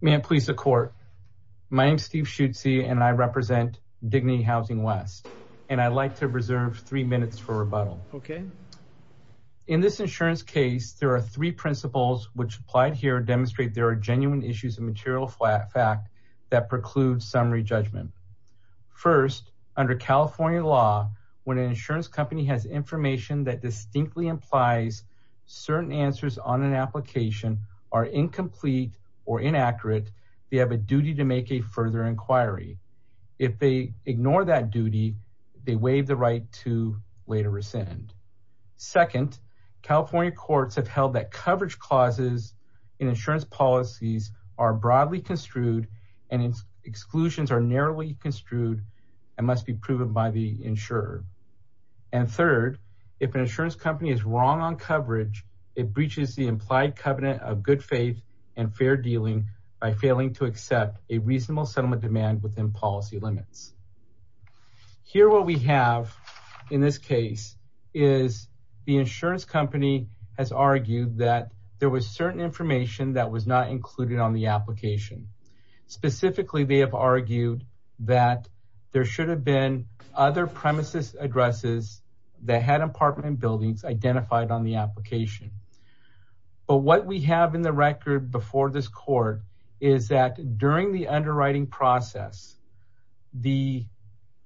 May it please the Court, my name is Steve Schutze and I represent Dignity Housing West and I'd like to reserve three minutes for rebuttal. In this insurance case, there are three principles which applied here demonstrate there are genuine issues of material fact that preclude summary judgment. First, under California law, when an insurance company has information that distinctly implies certain answers on an application are incomplete or inaccurate, they have a duty to make a further inquiry. If they ignore that duty, they waive the right to later rescind. Second, California courts have held that coverage clauses in insurance policies are broadly construed and its exclusions are narrowly construed and must be proven by the insurer. And third, if an insurance company is wrong on coverage, it breaches the implied covenant of good faith and fair dealing by failing to accept a reasonable settlement demand within policy limits. Here what we have in this case is the insurance company has argued that there was certain information that was not included on the application. Specifically, they have argued that there should have been other premises addresses that had apartment buildings identified on the application. But what we have in the record before this court is that during the underwriting process, the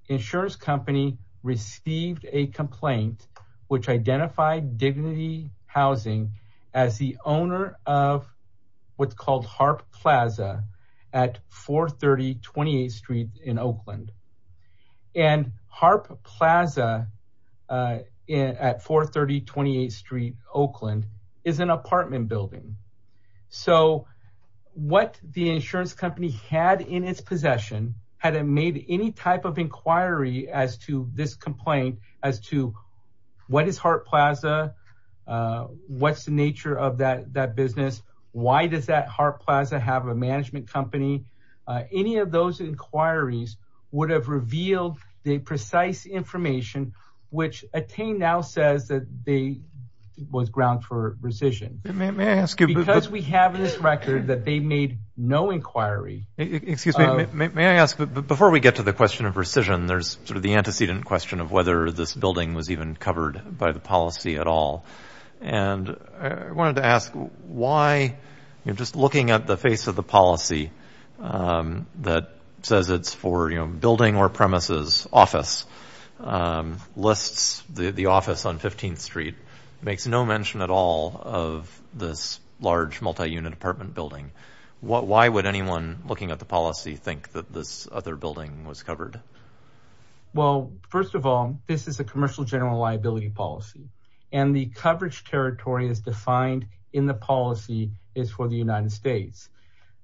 insurance company received a complaint which identified Dignity Housing as the owner of what's at 430 28th Street in Oakland and Harp Plaza at 430 28th Street, Oakland is an apartment building. So what the insurance company had in its possession, had it made any type of inquiry as to this complaint as to what is Harp Plaza, what's the nature of that business, why does that Harp Plaza have a management company? Any of those inquiries would have revealed the precise information which Attain now says that they was ground for rescission. May I ask you because we have this record that they made no inquiry. Excuse me, may I ask before we get to the question of rescission, there's sort of the antecedent question of whether this building was even covered by the policy at all. And I wanted to ask why, just looking at the face of the policy that says it's for building or premises, office, lists the office on 15th Street, makes no mention at all of this large multi-unit apartment building. Why would anyone looking at the policy think that this other building was covered? Well, first of all, this is a commercial general liability policy and the coverage territory is defined in the policy is for the United States.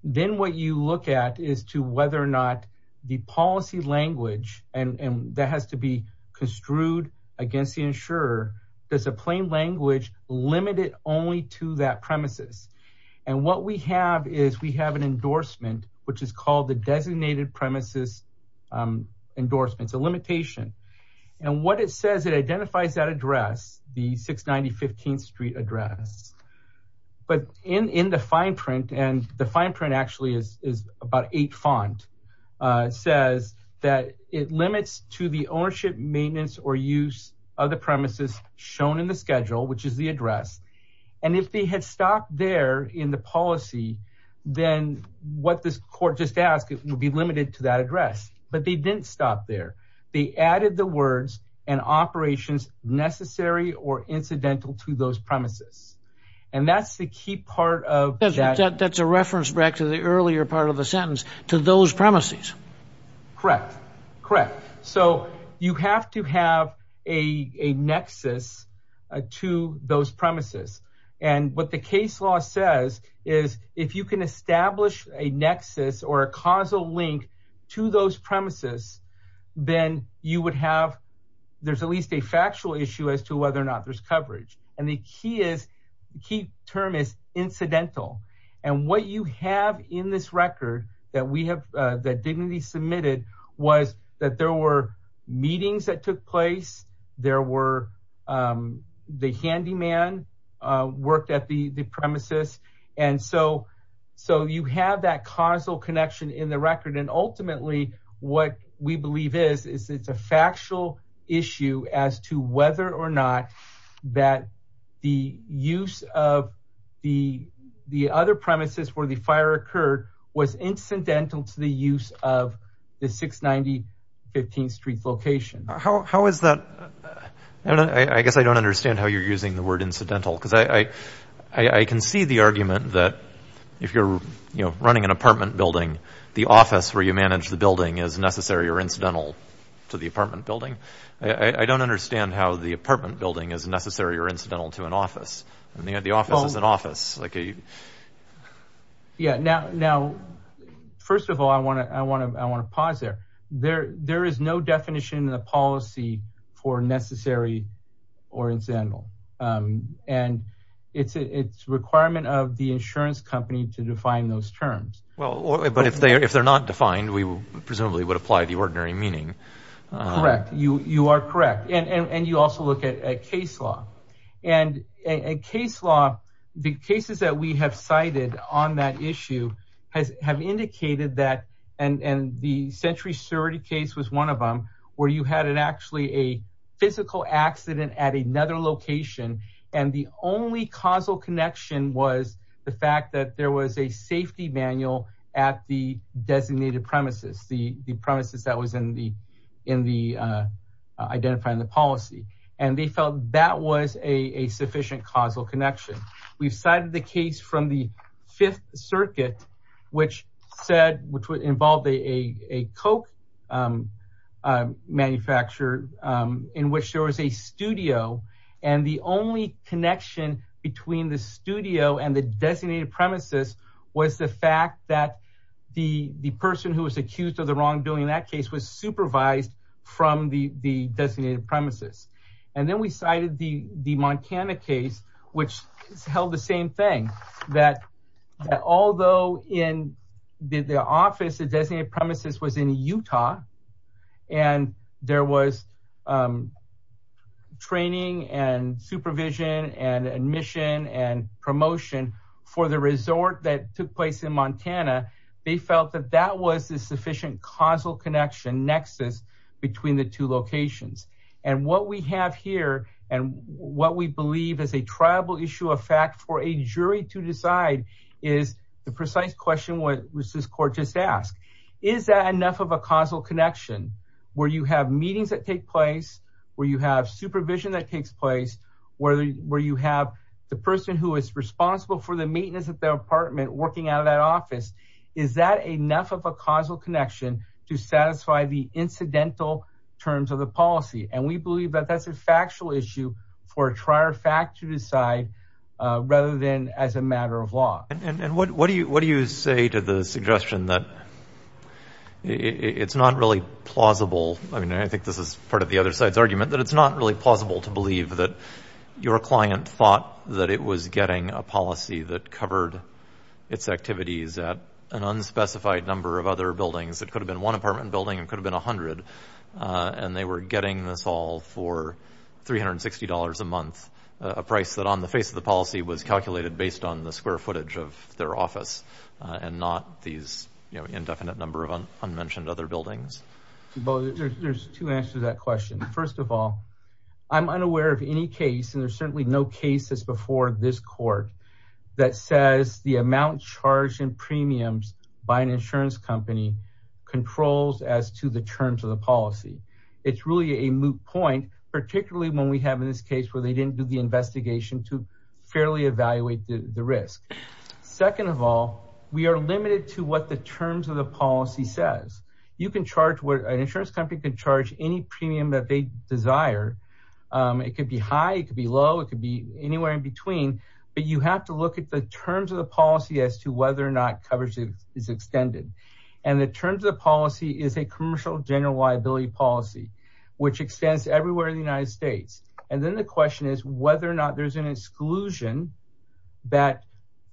Then what you look at is to whether or not the policy language and that has to be construed against the insurer. There's a plain language limited only to that premises. And what we have is we have an endorsement, which is called the designated premises endorsements, a limitation. And what it says, it identifies that address, the 690 15th Street address. But in the fine print and the fine print actually is about eight font, says that it limits to the ownership, maintenance or use of the premises shown in the schedule, which is the address. And if they had stopped there in the policy, then what this court just asked, it would be limited to that address. But they didn't stop there. They added the words and operations necessary or incidental to those premises. And that's the key part of that. That's a reference back to the earlier part of the sentence to those premises. Correct. Correct. So you have to have a nexus to those premises. And what the case law says is if you can establish a nexus or a causal link to those premises, then you would have, there's at least a factual issue as to whether or not there's coverage. And the key term is incidental. And what you have in this record that we have, that Dignity submitted was that there were meetings that took place. There were the handyman worked at the premises. And so you have that causal connection in the record. And ultimately what we believe is it's a factual issue as to whether or not that the use of the other premises where the fire occurred was incidental to the use of the 690 15th Street location. How is that? I guess I don't understand how you're using the word incidental because I can see the argument that if you're running an apartment building, the office where you manage the building is necessary or incidental to the apartment building. I don't understand how the apartment building is necessary or incidental to an office. I mean, the office is an office. Yeah. Now, first of all, I want to pause there. There is no definition in the policy for necessary or incidental. And it's a requirement of the insurance company to define those terms. Well, but if they're not defined, we presumably would apply the ordinary meaning. Correct. You are correct. And you also look at a case law. And a case law, the cases that we have cited on that issue have indicated that and the Century 30 case was one of them where you had an actually a physical accident at another location. And the only causal connection was the fact that there was a safety manual at the designated premises, the premises that was in the identifying the policy. And they felt that was a sufficient causal connection. We've cited the case from the Fifth Circuit, which said which involved a Coke manufacturer in which there was a studio. And the only connection between the studio and the designated premises was the fact that the person who was accused of the wrongdoing in that case was supervised from the designated premises. And then we cited the Montana case, which held the same thing, that although in the office, the designated premises was in Utah and there was training and supervision and admission and promotion for the resort that took place in Montana, they felt that that was a sufficient causal connection nexus between the two locations. And what we have here and what we believe is a tribal issue of fact for a jury to decide is the precise question. What was this court just ask? Is that enough of a causal connection where you have meetings that take place, where you have supervision that takes place, where you have the person who is responsible for the maintenance of the apartment working out of that office? Is that enough of a causal connection to satisfy the incidental terms of the policy? And we believe that that's a factual issue for a trier fact to decide rather than as a matter of law. And what do you say to the suggestion that it's not really plausible? I mean, I think this is part of the other side's argument that it's not really plausible to believe that your client thought that it was getting a policy that covered its an unspecified number of other buildings. It could have been one apartment building. It could have been 100. And they were getting this all for $360 a month, a price that on the face of the policy was calculated based on the square footage of their office and not these indefinite number of unmentioned other buildings. Well, there's two answers to that question. First of all, I'm unaware of any case and there's certainly no cases before this court that says the amount charged in premiums by an insurance company controls as to the terms of the policy. It's really a moot point, particularly when we have in this case where they didn't do the investigation to fairly evaluate the risk. Second of all, we are limited to what the terms of the policy says. You can charge where an insurance company can charge any premium that they desire. It could be high, it could be low, it could be anywhere in between. But you have to look at the terms of the policy as to whether or not coverage is extended. And the terms of the policy is a commercial general liability policy, which extends everywhere in the United States. And then the question is whether or not there's an exclusion that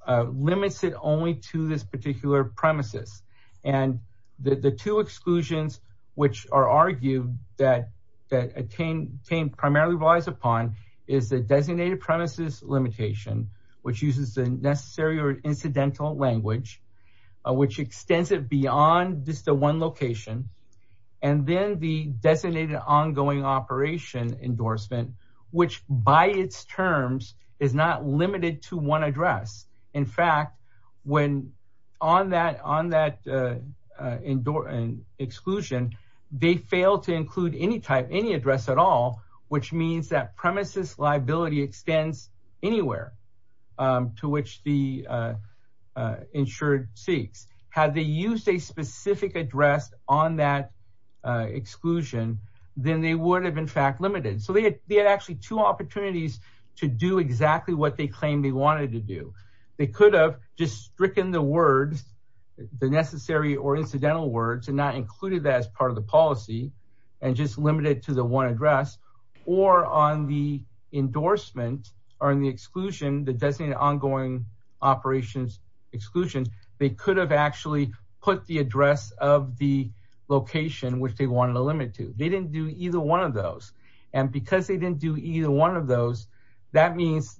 limits it only to this particular premises. And the two exclusions which are argued that Attain primarily relies upon is the designated premises limitation, which uses the necessary or incidental language, which extends it beyond just the one location. And then the designated ongoing operation endorsement, which by its terms is not limited to one address. In fact, when on that on that indoor exclusion, they fail to include any type, any extends anywhere to which the insured seeks. Had they used a specific address on that exclusion, then they would have in fact limited. So they had actually two opportunities to do exactly what they claimed they wanted to do. They could have just stricken the words, the necessary or incidental words and not included that as part of the policy and just limited to the one address or on the endorsement or in the exclusion, the designated ongoing operations exclusions, they could have actually put the address of the location which they wanted to limit to. They didn't do either one of those. And because they didn't do either one of those, that means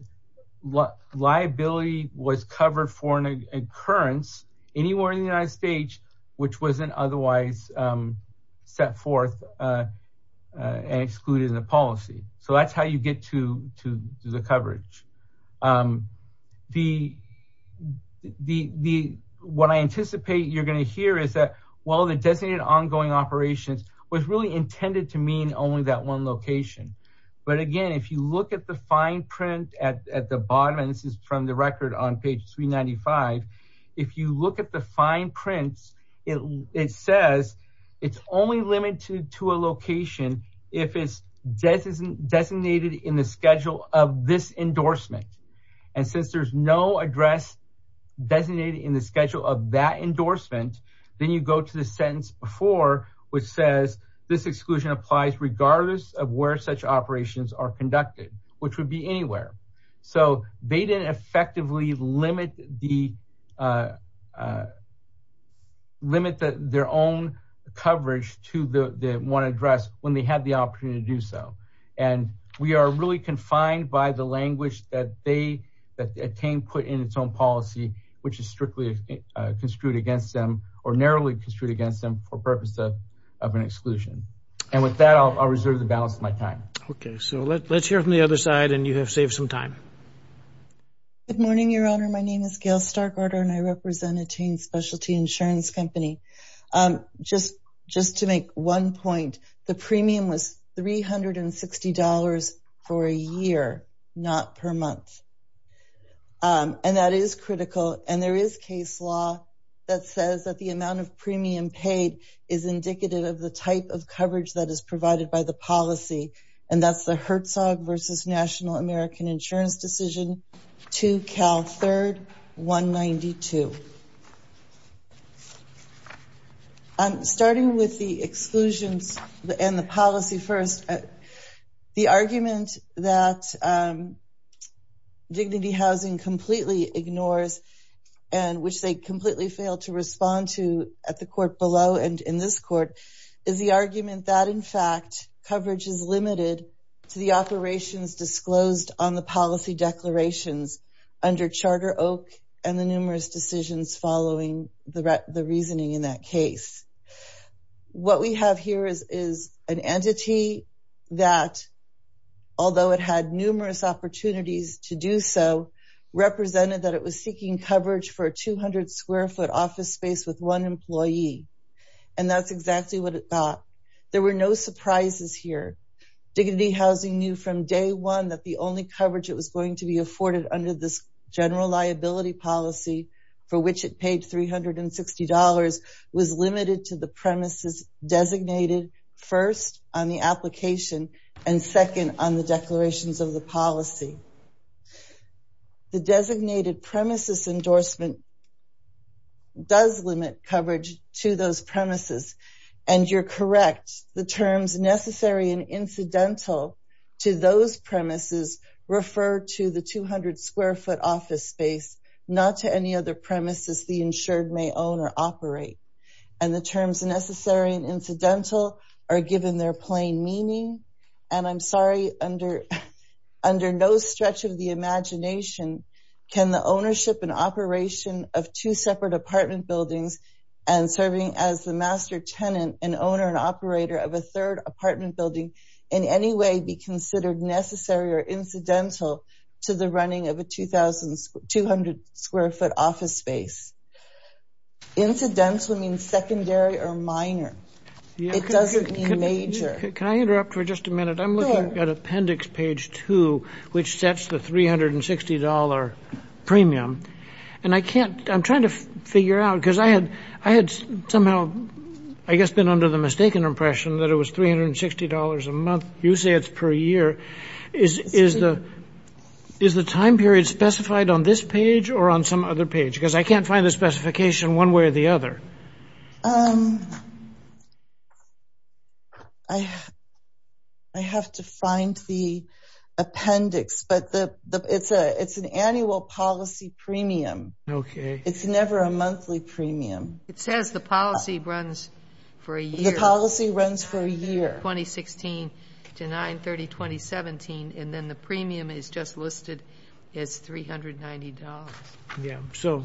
what liability was covered for an occurrence anywhere in the United States, which wasn't otherwise set forth and excluded in the policy. So that's how you get to the coverage. The what I anticipate you're going to hear is that, well, the designated ongoing operations was really intended to mean only that one location. But again, if you look at the fine print at the bottom, and this is from the record on page 395, if you look at the fine prints, it says it's only limited to a location if it's designated in the schedule of this endorsement. And since there's no address designated in the schedule of that endorsement, then you go to the sentence before, which says this exclusion applies regardless of where such operations are conducted, which would be anywhere. So they didn't effectively limit their own coverage to the one address when they had the opportunity to do so. And we are really confined by the language that they that attained put in its own policy, which is strictly construed against them or narrowly construed against them for purpose of of an exclusion. And with that, I'll reserve the balance of my time. OK, so let's hear from the other side. And you have saved some time. Good morning, Your Honor, my name is Gail Starkorder and I represent Attain Specialty Insurance Company. Just just to make one point, the premium was three hundred and sixty dollars for a year, not per month. And that is critical. And there is case law that says that the amount of premium paid is indicative of the type of coverage that is provided by the policy. And that's the Herzog versus National American Insurance Decision to Cal Third one ninety two. I'm starting with the exclusions and the policy first, the argument that dignity housing completely ignores and which they completely failed to respond to at the court below and in this court is the argument that, in fact, coverage is limited to the and the numerous decisions following the the reasoning in that case. What we have here is is an entity that, although it had numerous opportunities to do so, represented that it was seeking coverage for a two hundred square foot office space with one employee. And that's exactly what it thought. There were no surprises here. Dignity housing knew from day one that the only coverage it was going to be afforded under this general liability policy for which it paid three hundred and sixty dollars was limited to the premises designated first on the application and second on the declarations of the policy. The designated premises endorsement. Does limit coverage to those premises and you're correct, the terms necessary and incidental are given their plain meaning and I'm sorry, under under no stretch of the imagination, can the ownership and operation of two separate apartment buildings and serving as the master tenant and owner and operator of a third apartment building in any way be considered necessary or incidental to the running of a two thousand two hundred square foot office space? Incidental means secondary or minor, it doesn't mean major. Can I interrupt for just a minute? I'm looking at appendix page two, which sets the three hundred and sixty dollar premium. And I can't I'm trying to figure out because I had I had somehow, I guess, been under the you say it's per year is is the is the time period specified on this page or on some other page? Because I can't find the specification one way or the other. I have to find the appendix, but it's a it's an annual policy premium. OK, it's never a monthly premium. It says the policy runs for a year. 2016 to 930, 2017, and then the premium is just listed as three hundred ninety dollars. Yeah. So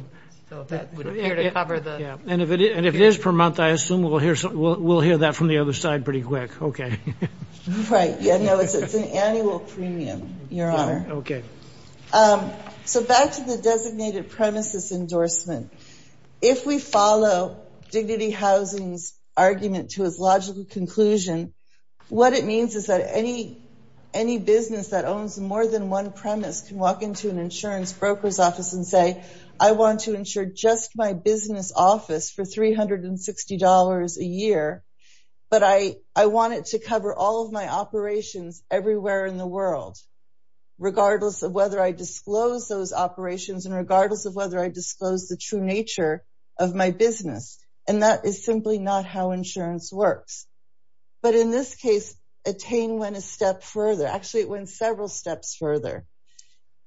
that would appear to cover the and if it is per month, I assume we'll hear we'll hear that from the other side pretty quick. OK, right. Yeah. No, it's an annual premium, Your Honor. OK, so back to the designated premises endorsement. If we follow Dignity Housing's argument to its logical conclusion, what it means is that any any business that owns more than one premise can walk into an insurance broker's office and say, I want to insure just my business office for three hundred and sixty dollars a year. But I I want it to cover all of my operations everywhere in the world, regardless of whether I disclose the true nature of my business. And that is simply not how insurance works. But in this case, Attain went a step further. Actually, it went several steps further.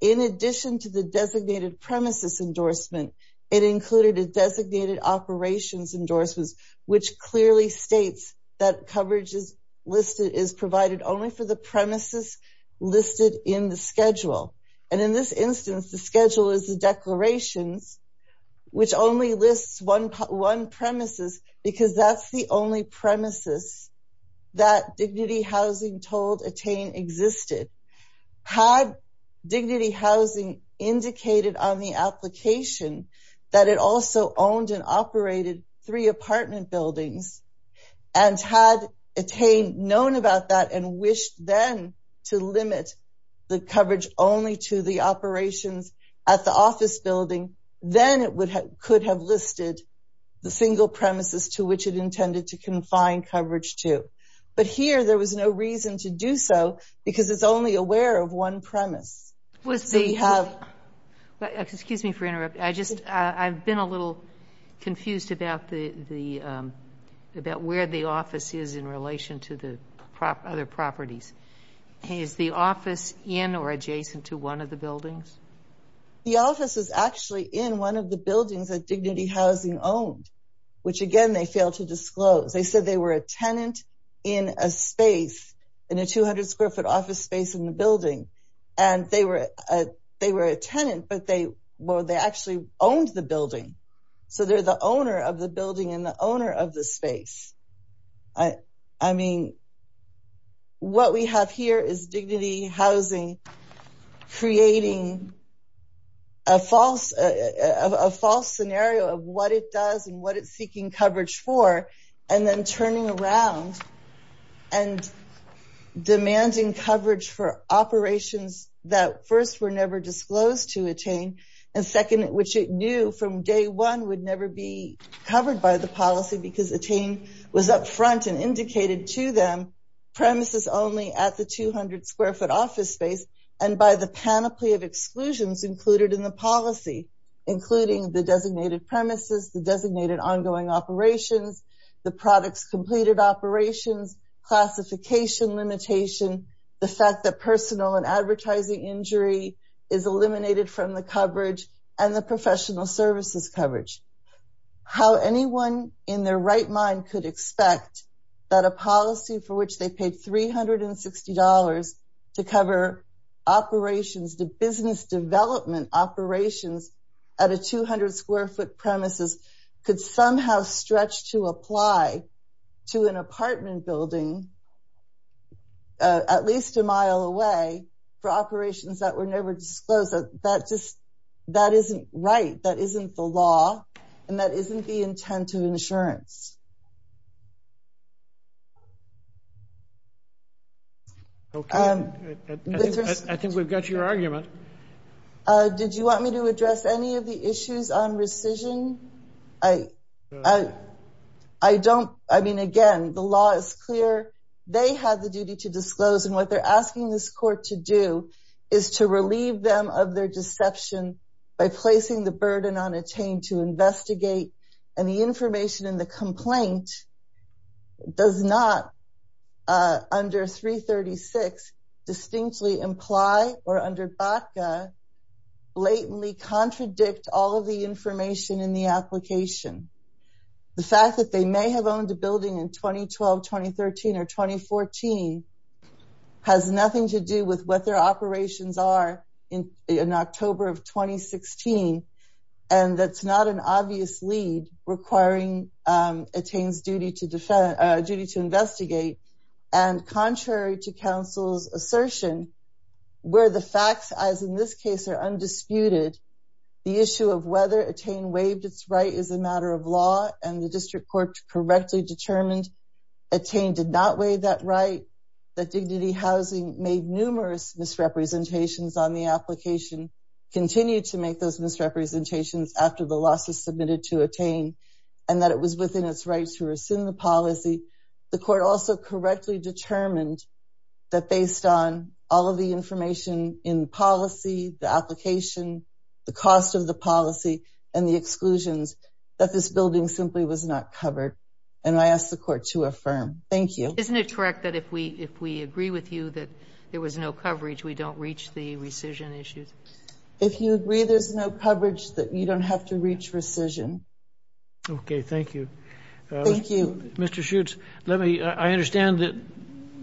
In addition to the designated premises endorsement, it included a designated operations endorsements, which clearly states that coverage is listed is provided only for the premises listed in the schedule. And in this instance, the schedule is the declarations, which only lists one one premises because that's the only premises that Dignity Housing told Attain existed. Had Dignity Housing indicated on the application that it also owned and operated three apartment buildings and had Attain known about that and wished then to limit the coverage only to the operations at the office building, then it would have could have listed the single premises to which it intended to confine coverage to. But here there was no reason to do so because it's only aware of one premise. Was the have excuse me for interrupt. I just I've been a little confused about the the about where the office is in relation to the other properties. Is the office in or adjacent to one of the buildings? The office is actually in one of the buildings that Dignity Housing owned, which again, they failed to disclose. They said they were a tenant in a space in a 200 square foot office space in the building. And they were they were a tenant, but they were they actually owned the building. So they're the owner of the building and the owner of the space. I mean. What we have here is Dignity Housing creating. A false a false scenario of what it does and what it's seeking coverage for and then turning around and demanding coverage for operations that first were never disclosed to Attain and second, which it knew from day one would never be covered by the policy because Attain was up front and indicated to them premises only at the 200 square foot office space and by the panoply of exclusions included in the policy, including the designated premises, the designated ongoing operations, the products completed operations, classification limitation, the fact that personal and advertising injury is eliminated from the coverage and the professional services coverage, how anyone in their right mind could expect that a policy for which they paid three hundred and sixty dollars to cover operations, the business development operations at a 200 square foot premises could somehow stretch to apply to an apartment building at least a mile away for operations that were never disclosed. That just that isn't right. That isn't the law and that isn't the intent of insurance. I think we've got your argument. Did you want me to address any of the issues on rescission? I, I don't I mean, again, the law is clear. They have the duty to disclose and what they're asking this court to do is to relieve them of their deception by placing the burden on Attain to investigate. And the information in the complaint does not under three thirty six distinctly imply or under Baca blatantly contradict all of the information in the application. The fact that they may have owned a building in 2012, 2013 or 2014 has nothing to do with what their operations are in October of 2016. And that's not an obvious lead requiring Attain's duty to defend duty to investigate. And contrary to counsel's assertion, where the facts, as in this case, are undisputed, the issue of whether Attain waived its right is a matter of law and the district court correctly determined Attain did not waive that right, that Dignity Housing made numerous misrepresentations on the application, continued to make those misrepresentations after the losses submitted to Attain and that it was within its rights to rescind the policy. The court also correctly determined that based on all of the information in policy, the application, the cost of the policy and the exclusions that this building simply was not covered. And I ask the court to affirm. Thank you. Isn't it correct that if we if we agree with you that there was no coverage, we don't reach the rescission issues? If you agree, there's no coverage that you don't have to reach rescission. OK, thank you. Thank you. Mr. Schutz, let me I understand that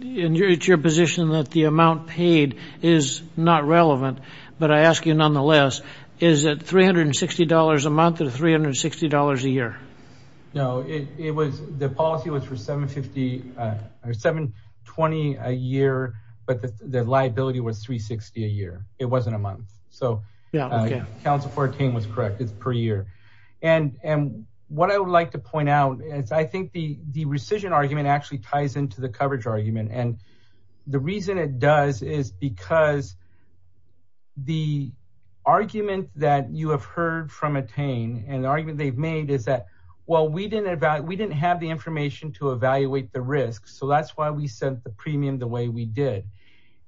it's your position that the amount paid is not relevant. But I ask you nonetheless, is it $360 a month or $360 a year? No, it was the policy was for $750 or $720 a year. But the liability was $360 a year. It wasn't a month. So yeah, counsel for Attain was correct. It's per year. And and what I would like to point out is I think the rescission argument actually ties into the coverage argument. And the reason it does is because. The argument that you have heard from Attain and the argument they've made is that, well, we didn't we didn't have the information to evaluate the risk, so that's why we sent the premium the way we did.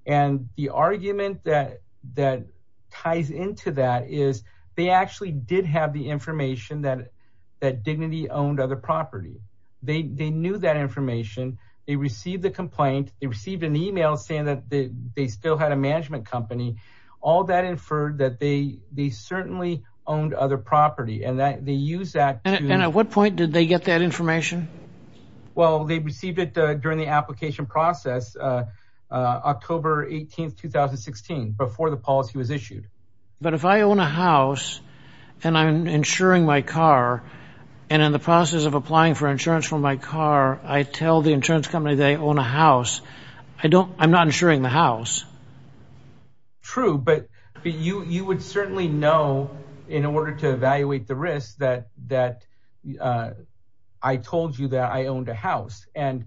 And the argument that that ties into that is they actually did have the information that that Dignity owned other property. They knew that information. They received the complaint. They received an email saying that they still had a management company. All that inferred that they they certainly owned other property and that they use that. And at what point did they get that information? Well, they received it during the application process, October 18th, 2016, before the policy was issued. But if I own a house and I'm insuring my car and in the process of applying for insurance for my car, I tell the insurance company they own a house. I don't I'm not insuring the house. True, but you would certainly know in order to evaluate the risk that that I told you that I owned a house and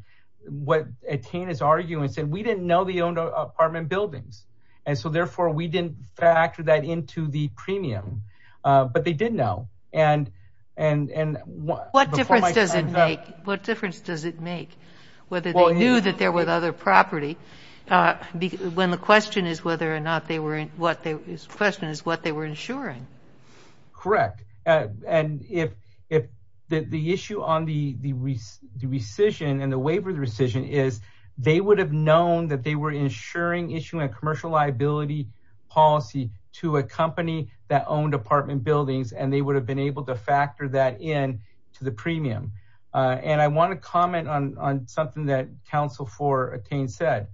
what Attain is arguing is that we didn't know they owned apartment buildings. And so therefore, we didn't factor that into the premium. But they did know. And and and what difference does it make? What difference does it make whether they knew that there were other property when the question is whether or not they were what the question is, what they were insuring? Correct. And if if the issue on the the rescission and the waiver, the rescission is they would have known that they were insuring issuing a commercial liability policy to a company that owned apartment buildings, and they would have been able to factor that in to the premium. And I want to comment on something that counsel for Attain said.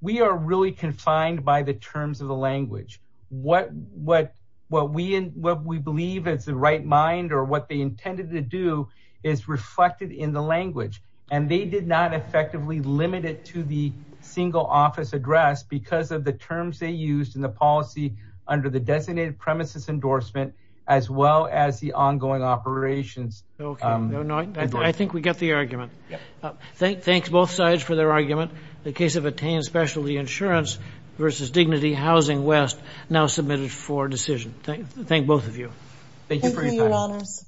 We are really confined by the terms of the language. What what what we what we believe is the right mind or what they intended to do is not effectively limited to the single office address because of the terms they used in the policy under the designated premises endorsement, as well as the ongoing operations. OK. No, no. I think we get the argument. Thank thanks both sides for their argument. The case of Attain Specialty Insurance versus Dignity Housing West now submitted for decision. Thank thank both of you. Thank you for your honors.